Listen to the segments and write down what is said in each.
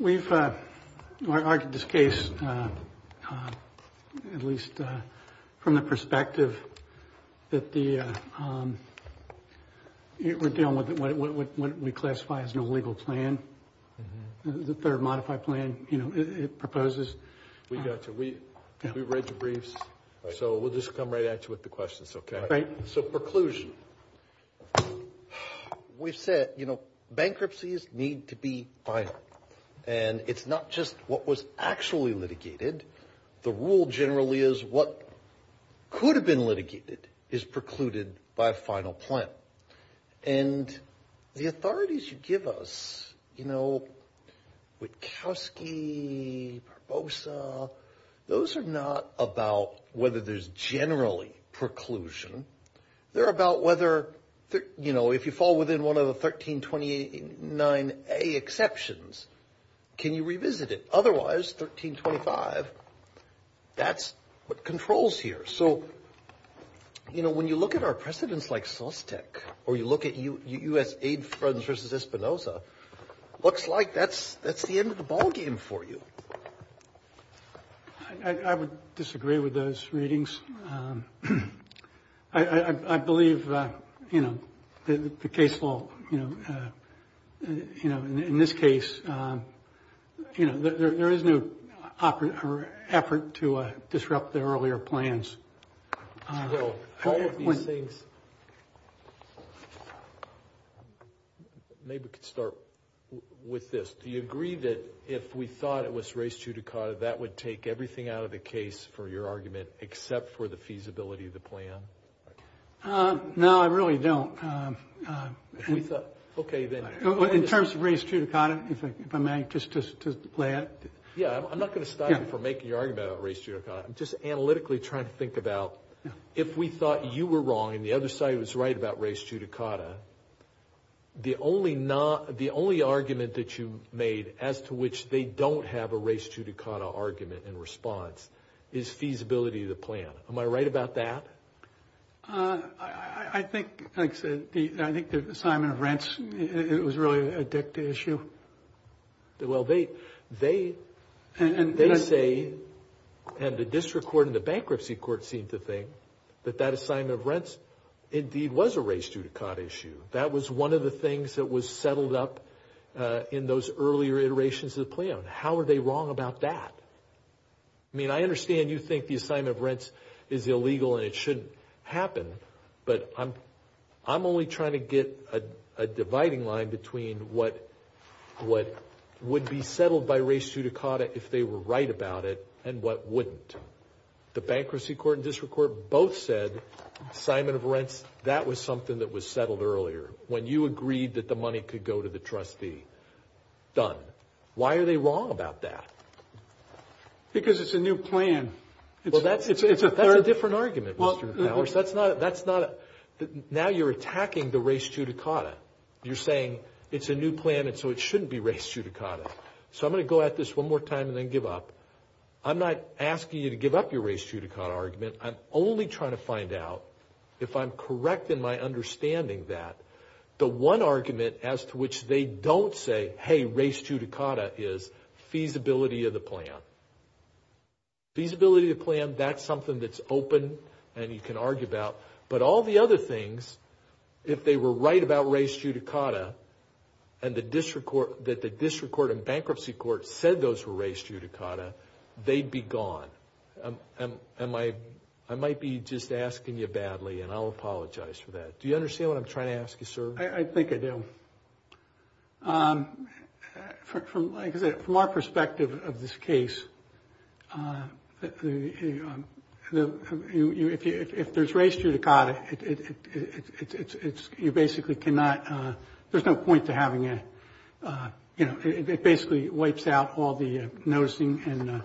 We've argued this case, at least from the perspective that we're dealing with what we classify as an illegal plan. The third modified plan, it proposes. We got you. We read your briefs. So we'll just come right at you with the questions. So preclusion. We've said, bankruptcies need to be final. And it's not just what was actually litigated. The rule generally is what could have been litigated is precluded by a final plan. And the authorities you give us, you know, Witkowski, Barbosa, those are not about whether there's generally preclusion. They're about whether, you know, if you fall within one of the 1329A exceptions, can you revisit it? Because otherwise, 1325, that's what controls here. So you know, when you look at our precedents like Sostek, or you look at U.S. aid funds versus Espinoza, looks like that's the end of the ballgame for you. I would disagree with those readings. I believe, you know, the case will, you know, in this case, you know, there is no effort to disrupt the earlier plans. All of these things, maybe we could start with this. Do you agree that if we thought it was res judicata, that would take everything out of the case for your argument, except for the feasibility of the plan? No, I really don't. If we thought, okay, then. In terms of res judicata, if I may, just to lay out. Yeah, I'm not going to stop you from making your argument about res judicata. I'm just analytically trying to think about if we thought you were wrong and the other side was right about res judicata, the only argument that you made as to which they don't have a res judicata argument in response is feasibility of the plan. Am I right about that? I think, like I said, I think the assignment of rents, it was really an addictive issue. Well, they say, and the district court and the bankruptcy court seem to think that that assignment of rents indeed was a res judicata issue. That was one of the things that was settled up in those earlier iterations of the plan. How are they wrong about that? I mean, I understand you think the assignment of rents is illegal and it shouldn't happen, but I'm only trying to get a dividing line between what would be settled by res judicata if they were right about it and what wouldn't. The bankruptcy court and district court both said assignment of rents, that was something that was settled earlier. When you agreed that the money could go to the trustee, done. Why are they wrong about that? Because it's a new plan. Well, that's a different argument, Mr. Powers. Now you're attacking the res judicata. You're saying it's a new plan and so it shouldn't be res judicata. So I'm going to go at this one more time and then give up. I'm not asking you to give up your res judicata argument. I'm only trying to find out if I'm correct in my understanding that the one argument as to which they don't say, hey, res judicata is feasibility of the plan. Feasibility of the plan, that's something that's open and you can argue about. But all the other things, if they were right about res judicata and that the district court and bankruptcy court said those were res judicata, they'd be gone. I might be just asking you badly and I'll apologize for that. I think I do. From our perspective of this case, if there's res judicata, there's no point to having it. It basically wipes out all the noticing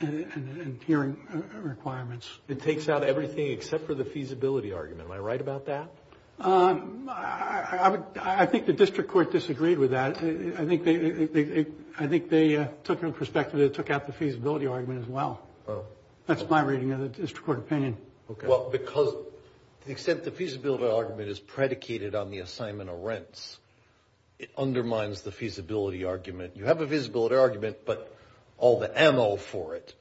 and hearing requirements. It takes out everything except for the feasibility argument. Am I right about that? I think the district court disagreed with that. I think they took it in perspective. They took out the feasibility argument as well. That's my reading of the district court opinion. Well, because the extent the feasibility argument is predicated on the assignment of rents, it undermines the feasibility argument. You have a feasibility argument, but all the ammo for it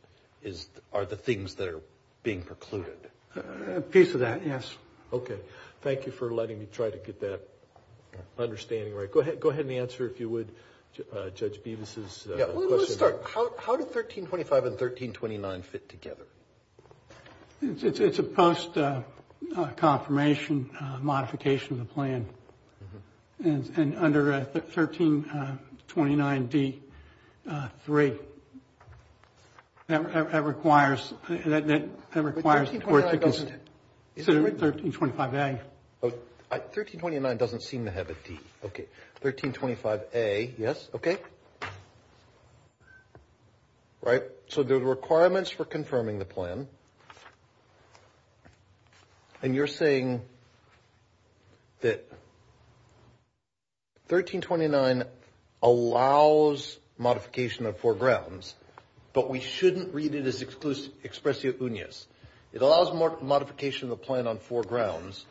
are the things that are being precluded. A piece of that, yes. Okay. Thank you for letting me try to get that understanding right. Go ahead and answer, if you would, Judge Bevis' question. Yeah, we'll start. How did 1325 and 1329 fit together? It's a post-confirmation modification of the plan. And under 1329D3, that requires court to consider 1325A. 1329 doesn't seem to have a D. Okay. 1325A, yes. Okay. Right. So, the requirements for confirming the plan. And you're saying that 1329 allows modification of four grounds, but we shouldn't read it as expressi unias. It allows modification of the plan on four grounds,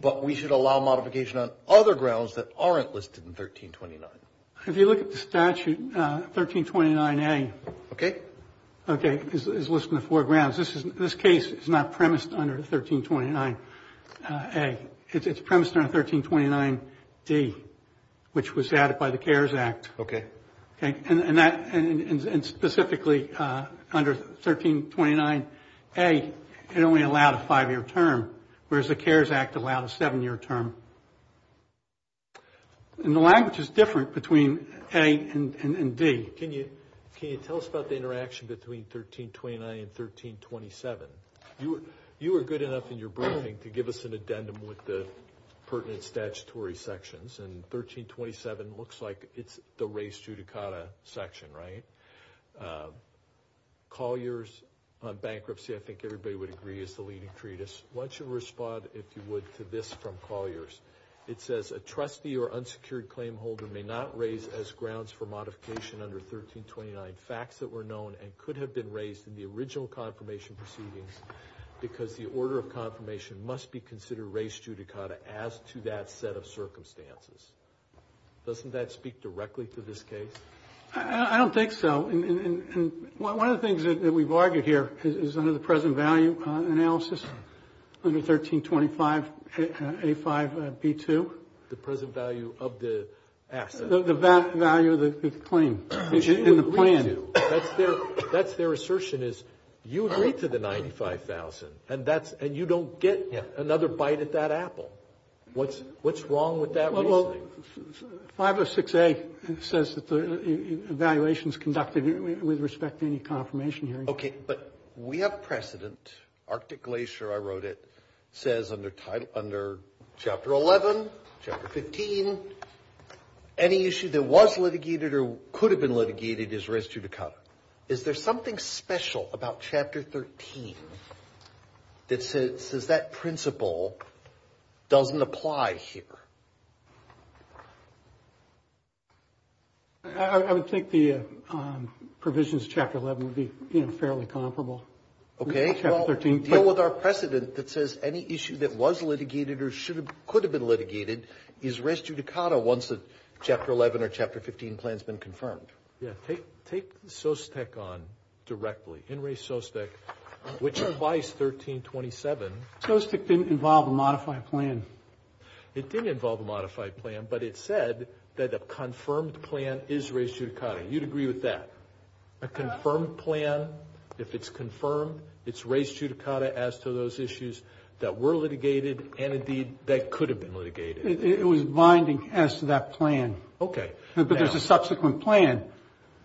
but we should allow modification on other grounds that aren't listed in 1329. If you look at the statute, 1329A. Okay. Okay, it's listed on four grounds. This case is not premised under 1329A. It's premised under 1329D, which was added by the CARES Act. Okay. Okay. And specifically, under 1329A, it only allowed a five-year term, whereas the CARES Act allowed a seven-year term. And the language is different between A and D. Can you tell us about the interaction between 1329 and 1327? You were good enough in your briefing to give us an addendum with the pertinent statutory sections. And 1327 looks like it's the race judicata section, right? Collier's bankruptcy, I think everybody would agree, is the leading treatise. Why don't you respond, if you would, to this from Collier's. It says, a trustee or unsecured claim holder may not raise as grounds for modification under 1329 facts that were known and could have been raised in the original confirmation proceedings because the order of confirmation must be considered race judicata as to that set of circumstances. Doesn't that speak directly to this case? I don't think so. And one of the things that we've argued here is under the present value analysis under 1325A5B2. The present value of the asset. The value of the claim. In the plan. That's their assertion is you agree to the 95,000 and you don't get another bite at that apple. What's wrong with that reasoning? 506A says that the evaluation is conducted with respect to any confirmation here. Okay, but we have precedent. Arctic Glacier, I wrote it, says under Chapter 11, Chapter 15, any issue that was litigated or could have been litigated is race judicata. Is there something special about Chapter 13 that says that principle doesn't apply here? I would think the provisions of Chapter 11 would be, you know, fairly comparable. Okay, well deal with our precedent that says any issue that was litigated or could have been litigated is race judicata once Chapter 11 or Chapter 15 plan has been confirmed. Yeah, take Sostek on directly. In re Sostek, which applies 1327. Sostek didn't involve a modified plan. It didn't involve a modified plan, but it said that a confirmed plan is race judicata. You'd agree with that? A confirmed plan, if it's confirmed, it's race judicata as to those issues that were litigated and indeed that could have been litigated. It was binding as to that plan. Okay. But there's a subsequent plan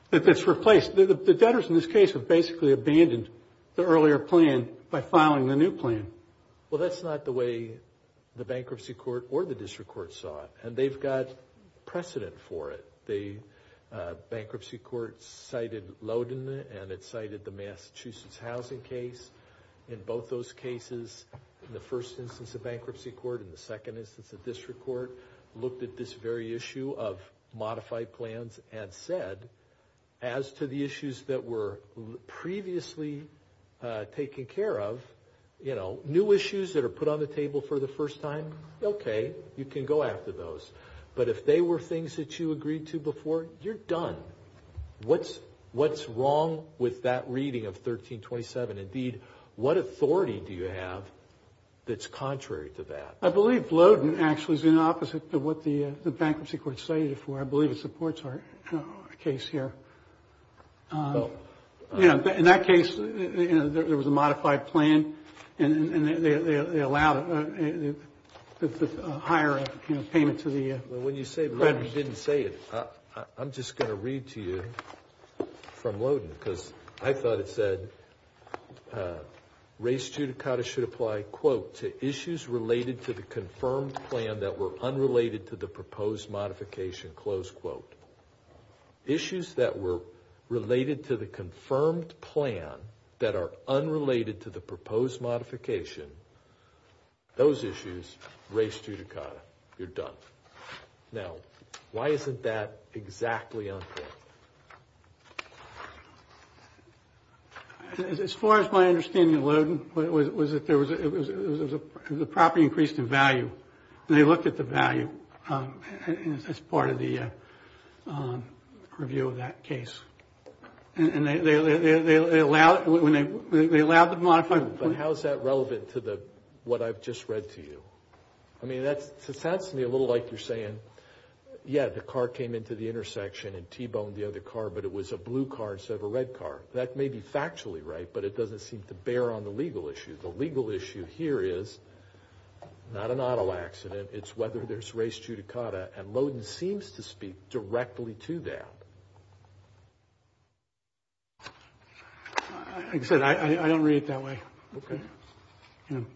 that's replaced. The debtors in this case have basically abandoned the earlier plan by filing the new plan. Well, that's not the way the bankruptcy court or the district court saw it, and they've got precedent for it. The bankruptcy court cited Loden, and it cited the Massachusetts housing case. In both those cases, in the first instance of bankruptcy court and the second instance of district court, looked at this very issue of modified plans and said, as to the issues that were previously taken care of, you know, new issues that are put on the table for the first time, okay, you can go after those. But if they were things that you agreed to before, you're done. What's wrong with that reading of 1327? Indeed, what authority do you have that's contrary to that? I believe Loden actually is in opposite to what the bankruptcy court cited it for. I believe it supports our case here. You know, in that case, you know, there was a modified plan, and they allowed a higher, you know, payment to the debtors. Well, when you say Loden didn't say it, I'm just going to read to you from Loden because I thought it said, race judicata should apply, quote, to issues related to the confirmed plan that were unrelated to the proposed modification, close quote. Issues that were related to the confirmed plan that are unrelated to the proposed modification, those issues, race judicata, you're done. Now, why isn't that exactly on here? As far as my understanding of Loden, was it there was a property increase in value, and they looked at the value as part of the review of that case. And they allowed, when they, they allowed the modified. But how is that relevant to the, what I've just read to you? I mean, that's, it sounds to me a little like you're saying, yeah, the car came into the intersection and T-boned the other car, but it was a blue car instead of a red car. That may be factually right, but it doesn't seem to bear on the legal issue. The legal issue here is not an auto accident. It's whether there's race judicata. And Loden seems to speak directly to that. Like I said, I don't read it that way. Okay.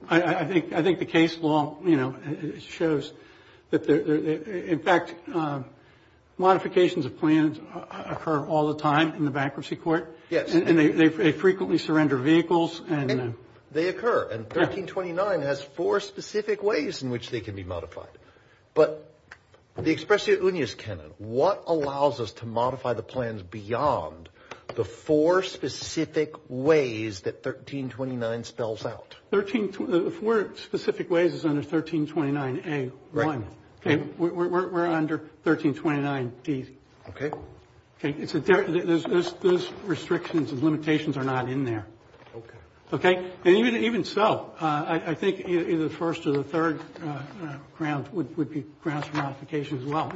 I think, I think the case law, you know, shows that, in fact, modifications of plans occur all the time in the bankruptcy court. Yes. And they frequently surrender vehicles. They occur. And 1329 has four specific ways in which they can be modified. But the expressio unius canon, what allows us to modify the plans beyond the four specific ways that 1329 spells out? 13, the four specific ways is under 1329A1. Right. Okay, we're under 1329D. Okay. Okay, it's a, there's restrictions and limitations are not in there. Okay. Okay? And even so, I think either the first or the third ground would be grounds for modification as well.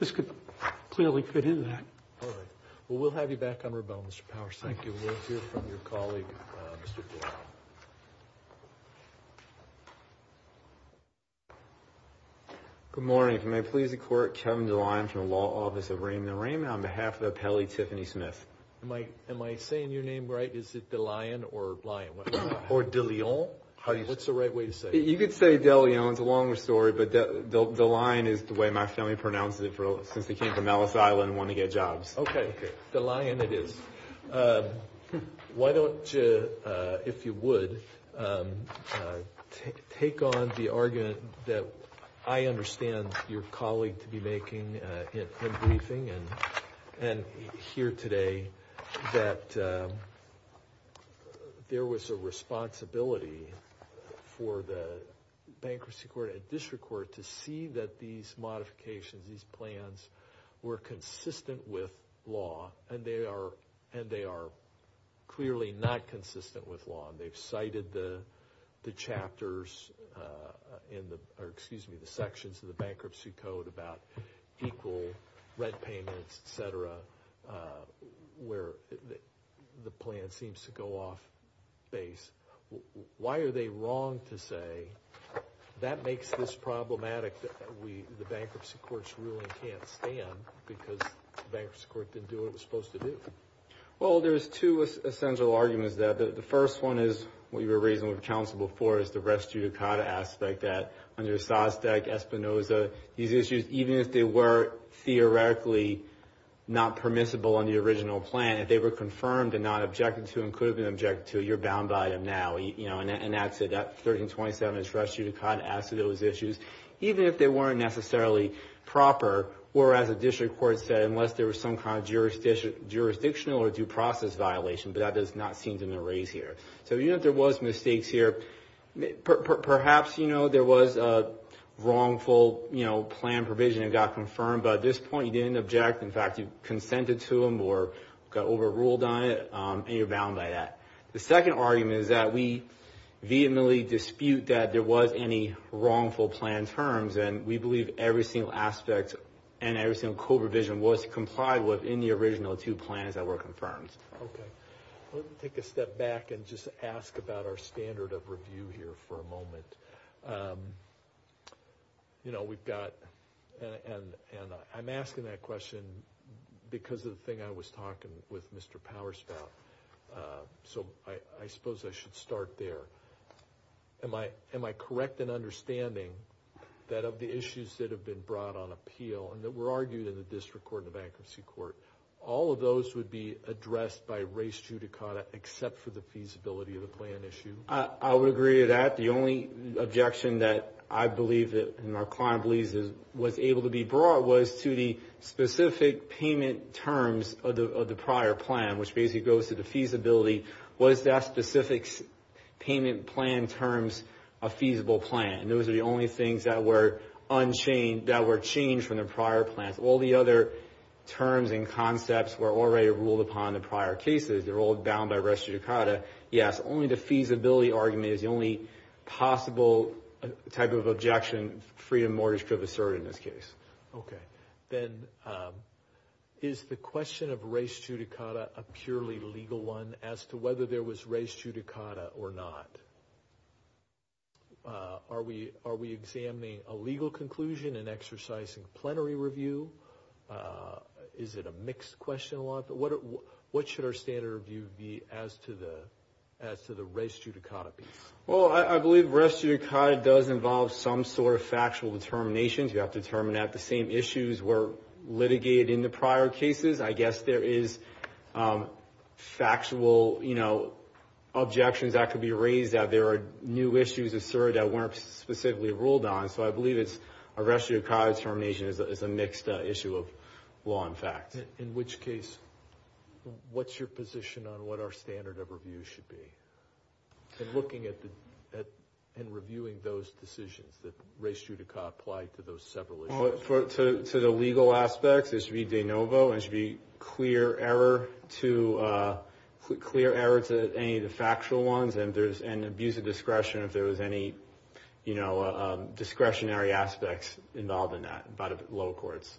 This could clearly fit into that. All right. Well, we'll have you back on rebuttal, Mr. Powers. Thank you. We'll hear from your colleague, Mr. DeLion. Good morning. If you may please the court, Kevin DeLion from the law office of Raymond & Raymond on behalf of the appellee, Tiffany Smith. Am I, am I saying your name right? Is it DeLion or Lyon? Or DeLeon. How do you say it? What's the right way to say it? You could say DeLeon, it's a longer story, but DeLion is the way my family pronounces it since they came from Ellis Island and wanted to get jobs. Okay. DeLion it is. Why don't you, if you would, take on the argument that I understand your colleague to be making in briefing and here today that there was a responsibility for the bankruptcy court and district court to see that these laws, and they are, and they are clearly not consistent with law. And they've cited the chapters in the, or excuse me, the sections of the bankruptcy code about equal rent payments, et cetera, where the plan seems to go off base, why are they wrong to say that makes this problematic? We, the bankruptcy courts really can't stand because the bankruptcy court didn't do what it was supposed to do. Well, there's two essential arguments there. The first one is what you were raising with counsel before is the rest judicata aspect that under Sostek, Espinoza, these issues, even if they were theoretically not permissible on the original plan, if they were confirmed and not objected to and could have been objected to, you're bound by them now, you know, and that's it. 1327 is rest judicata as to those issues, even if they weren't necessarily proper, or as a district court said, unless there was some kind of jurisdiction, jurisdictional or due process violation, but that does not seem to be raised here. So even if there was mistakes here, perhaps, you know, there was a wrongful, you know, plan provision that got confirmed, but at this point you didn't object. In fact, you consented to them or got overruled on it. And you're bound by that. The second argument is that we vehemently dispute that there was any wrongful plan terms. And we believe every single aspect and every single co-provision was complied with in the original two plans that were confirmed. Okay. Let me take a step back and just ask about our standard of review here for a moment. You know, we've got, and I'm asking that question because of the thing I was talking with Mr. Powers about, so I suppose I should start there. Am I correct in understanding that of the issues that have been brought on appeal and that were argued in the district court and the bankruptcy court, all of those would be addressed by res judicata, except for the feasibility of the plan issue? I would agree to that. The only objection that I believe, and my client believes, was able to be brought was to the specific payment terms of the prior plan, which basically goes to the feasibility. Was that specific payment plan terms a feasible plan? Those are the only things that were unchanged, that were changed from the prior plans. All the other terms and concepts were already ruled upon in the prior cases. They're all bound by res judicata. Yes. Only the feasibility argument is the only possible type of objection freedom mortgage could have asserted in this case. Okay. Then is the question of res judicata a purely legal one as to whether there was res judicata or not? Are we examining a legal conclusion in exercising plenary review? Is it a mixed question a lot? But what should our standard review be as to the res judicata piece? Well, I believe res judicata does involve some sort of factual determinations. You have to determine that the same issues were litigated in the prior cases. I guess there is factual objections that could be raised that there are new issues asserted that weren't specifically ruled on, so I believe a res judicata determination is a mixed issue of law and facts. In which case, what's your position on what our standard of review should be? And looking at and reviewing those decisions that res judicata apply to those several issues. To the legal aspects, there should be de novo, there should be clear error to any of the factual ones and abuse of discretion if there was any discretionary aspects involved in that by the lower courts.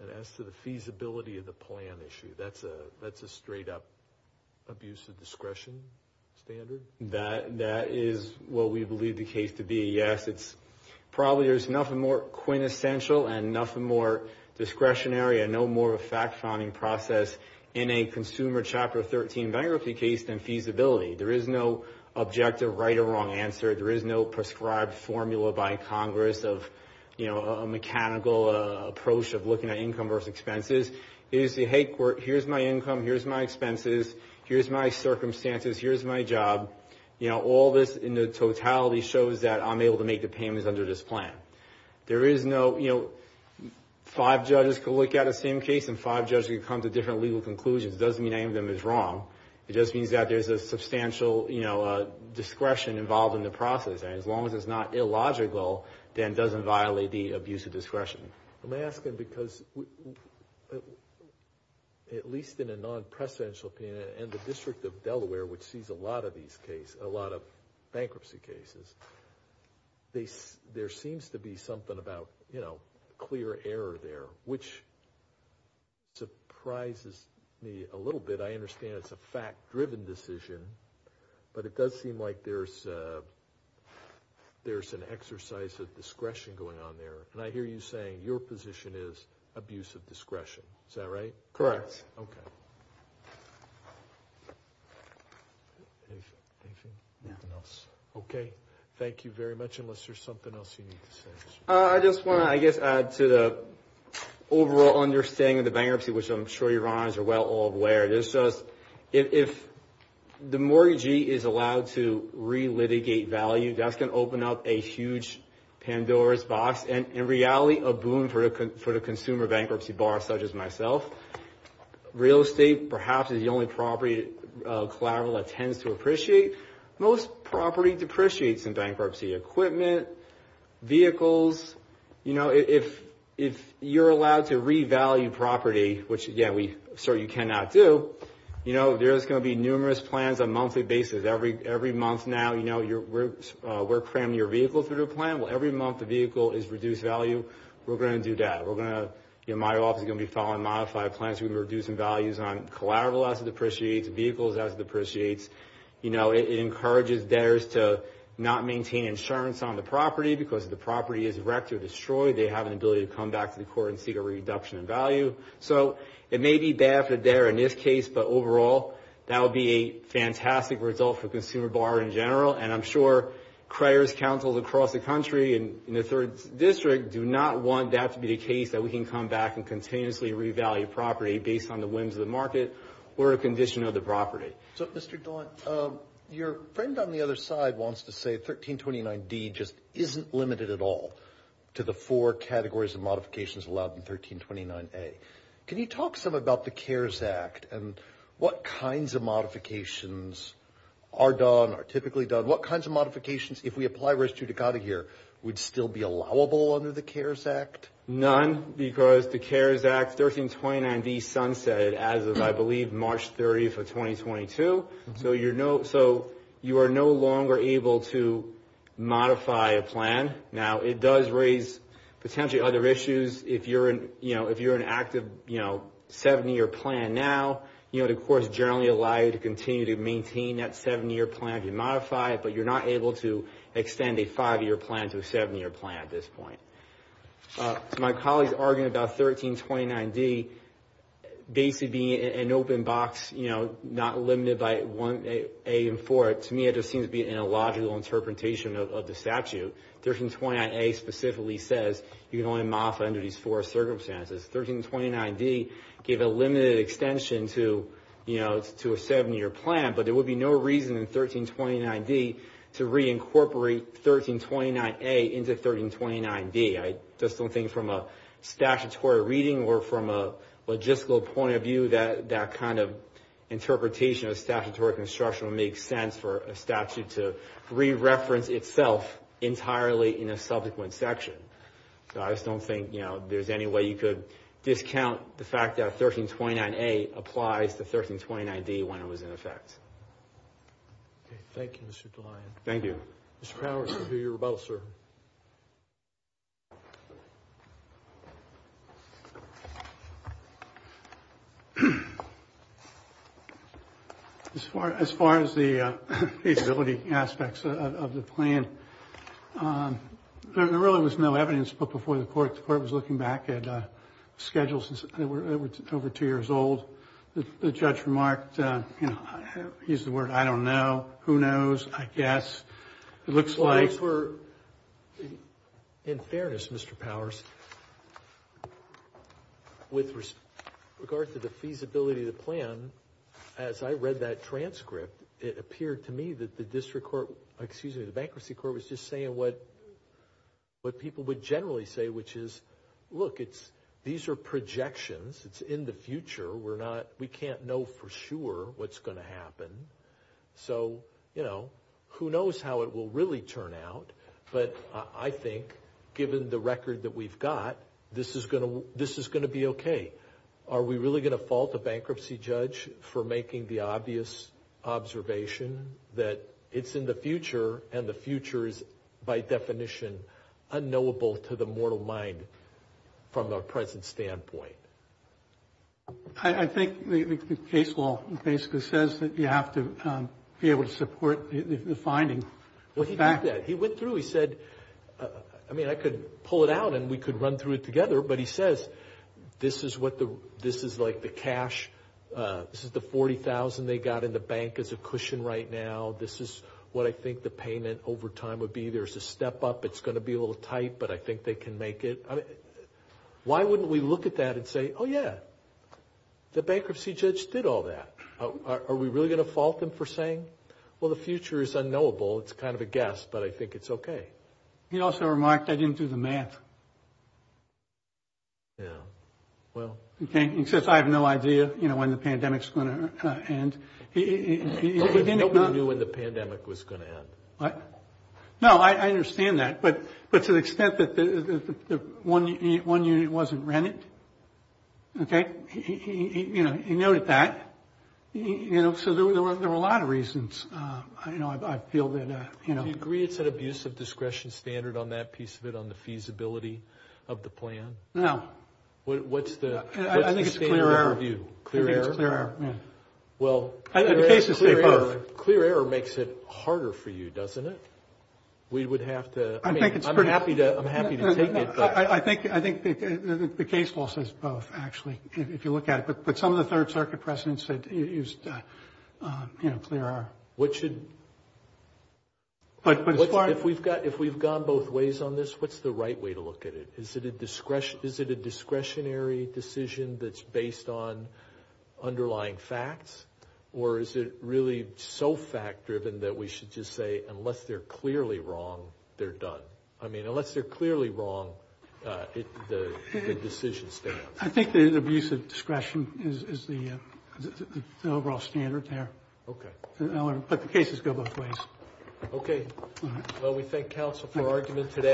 And as to the feasibility of the plan issue, that's a straight up abuse of discretion standard? That is what we believe the case to be, yes. It's probably, there's nothing more quintessential and nothing more discretionary and no more fact finding process in a consumer chapter 13 bankruptcy case than feasibility. There is no objective right or wrong answer. There is no prescribed formula by Congress of a mechanical approach of looking at income versus expenses. Here's the head court, here's my income, here's my expenses, here's my circumstances, here's my job. You know, all this in the totality shows that I'm able to make the payments under this plan. There is no, you know, five judges could look at the same case and five judges could come to different legal conclusions. It doesn't mean any of them is wrong. It just means that there's a substantial, you know, discretion involved in the process. And as long as it's not illogical, then it doesn't violate the abuse of discretion. I'm asking because at least in a non-presidential opinion and the district of Delaware, which sees a lot of these cases, a lot of bankruptcy cases, they, there seems to be something about, you know, clear error there, which surprises me a little bit. I understand it's a fact driven decision, but it does seem like there's a, there's an exercise of discretion going on there. And I hear you saying your position is abuse of discretion. Is that right? Correct. Okay. Okay. Thank you very much. Unless there's something else you need to say. I just want to, I guess, add to the overall understanding of the bankruptcy, which I'm sure your Honors are well aware. There's just, if the mortgagee is allowed to re-litigate value, that's going to a huge Pandora's box and in reality, a boon for the consumer bankruptcy bar such as myself, real estate, perhaps is the only property collateral that tends to appreciate. Most property depreciates in bankruptcy, equipment, vehicles, you know, if, if you're allowed to revalue property, which again, we certainly cannot do, you know, there's going to be numerous plans on a monthly basis every, every month. Now, you know, you're, we're cramming your vehicle through the plan. Well, every month the vehicle is reduced value. We're going to do that. We're going to, you know, my office is going to be following modified plans. We've been reducing values on collateral as it depreciates, vehicles as it depreciates. You know, it encourages debtors to not maintain insurance on the property because if the property is wrecked or destroyed, they have an ability to come back to the court and seek a reduction in value. So it may be bad for the debtor in this case, but overall, that would be a And I'm sure Criers Council across the country and in the third district do not want that to be the case that we can come back and continuously revalue property based on the whims of the market or a condition of the property. So, Mr. Daunt, your friend on the other side wants to say 1329D just isn't limited at all to the four categories of modifications allowed in 1329A. Can you talk some about the CARES Act and what kinds of modifications are done, are typically done, what kinds of modifications, if we apply res judicata here, would still be allowable under the CARES Act? None, because the CARES Act 1329D sunsetted as of, I believe, March 30th of 2022. So you're no, so you are no longer able to modify a plan. Now it does raise potentially other issues. If you're an, you know, if you're an active, you know, seven-year plan now, you know, the courts generally allow you to continue to maintain that seven-year plan if you modify it, but you're not able to extend a five-year plan to a seven-year plan at this point. So my colleagues arguing about 1329D basically being an open box, you know, not limited by 1A and 4A, to me, it just seems to be an illogical interpretation of the statute. 1329A specifically says you can only modify under these four circumstances. 1329D gave a limited extension to, you know, to a seven-year plan, but there would be no reason in 1329D to reincorporate 1329A into 1329D. I just don't think from a statutory reading or from a logistical point of view that that kind of interpretation of statutory construction would make sense for a statute to re-reference itself entirely in a subsequent section. So I just don't think, you know, there's any way you could discount the fact that 1329A applies to 1329D when it was in effect. Okay. Thank you, Mr. DeLayen. Thank you. Mr. Powers, I hear you're about, sir. As far as the feasibility aspects of the plan, there really was no evidence, but before the court, the court was looking back at schedules that were over two years old, the judge remarked, you know, he used the word, I don't know, who knows, I guess, it looks like... In fairness, Mr. Powers, with regard to the feasibility of the plan, as I read that transcript, it appeared to me that the district court, excuse me, the bankruptcy court was just saying what people would generally say, which is, look, these are projections. It's in the future. We're not, we can't know for sure what's going to happen. So, you know, who knows how it will really turn out, but I think given the record that we've got, this is going to, this is going to be okay. Are we really going to fault a bankruptcy judge for making the obvious observation that it's in the future and the future is by definition unknowable to the mortal mind from a present standpoint? I think the case law basically says that you have to be able to support the finding. Well, he did that. He went through, he said, I mean, I could pull it out and we could run through it together, but he says, this is what the, this is like the cash, this is the $40,000 they got in the bank as a cushion right now. This is what I think the payment over time would be. There's a step up. It's going to be a little tight, but I think they can make it. I mean, why wouldn't we look at that and say, oh yeah, the bankruptcy judge did all that. Are we really going to fault them for saying, well, the future is unknowable. It's kind of a guess, but I think it's okay. He also remarked, I didn't do the math. Yeah. Well, he says, I have no idea, you know, when the pandemic's going to end. He didn't know when the pandemic was going to end. What? No, I understand that, but to the extent that the one unit wasn't rented, okay, he, you know, he noted that, you know, so there were a lot of reasons, you know, I feel that, you know. Do you agree it's an abuse of discretion standard on that piece of it, on the feasibility of the plan? No. What's the standard view? Clear error? I think it's clear error, yeah. Well, clear error makes it harder for you, doesn't it? We would have to, I mean, I'm happy to, I'm happy to take it, but I think, I think the case law says both, actually, if you look at it, but some of the third circuit precedents that used, you know, clear error. What should, if we've gone both ways on this, what's the right way to look at it? Is it a discretionary decision that's based on underlying facts? Or is it really so fact-driven that we should just say, unless they're clearly wrong, they're done? I mean, unless they're clearly wrong, the decision stands. I think the abuse of discretion is the overall standard there. Okay. But the cases go both ways. Okay. Well, we thank counsel for argument today.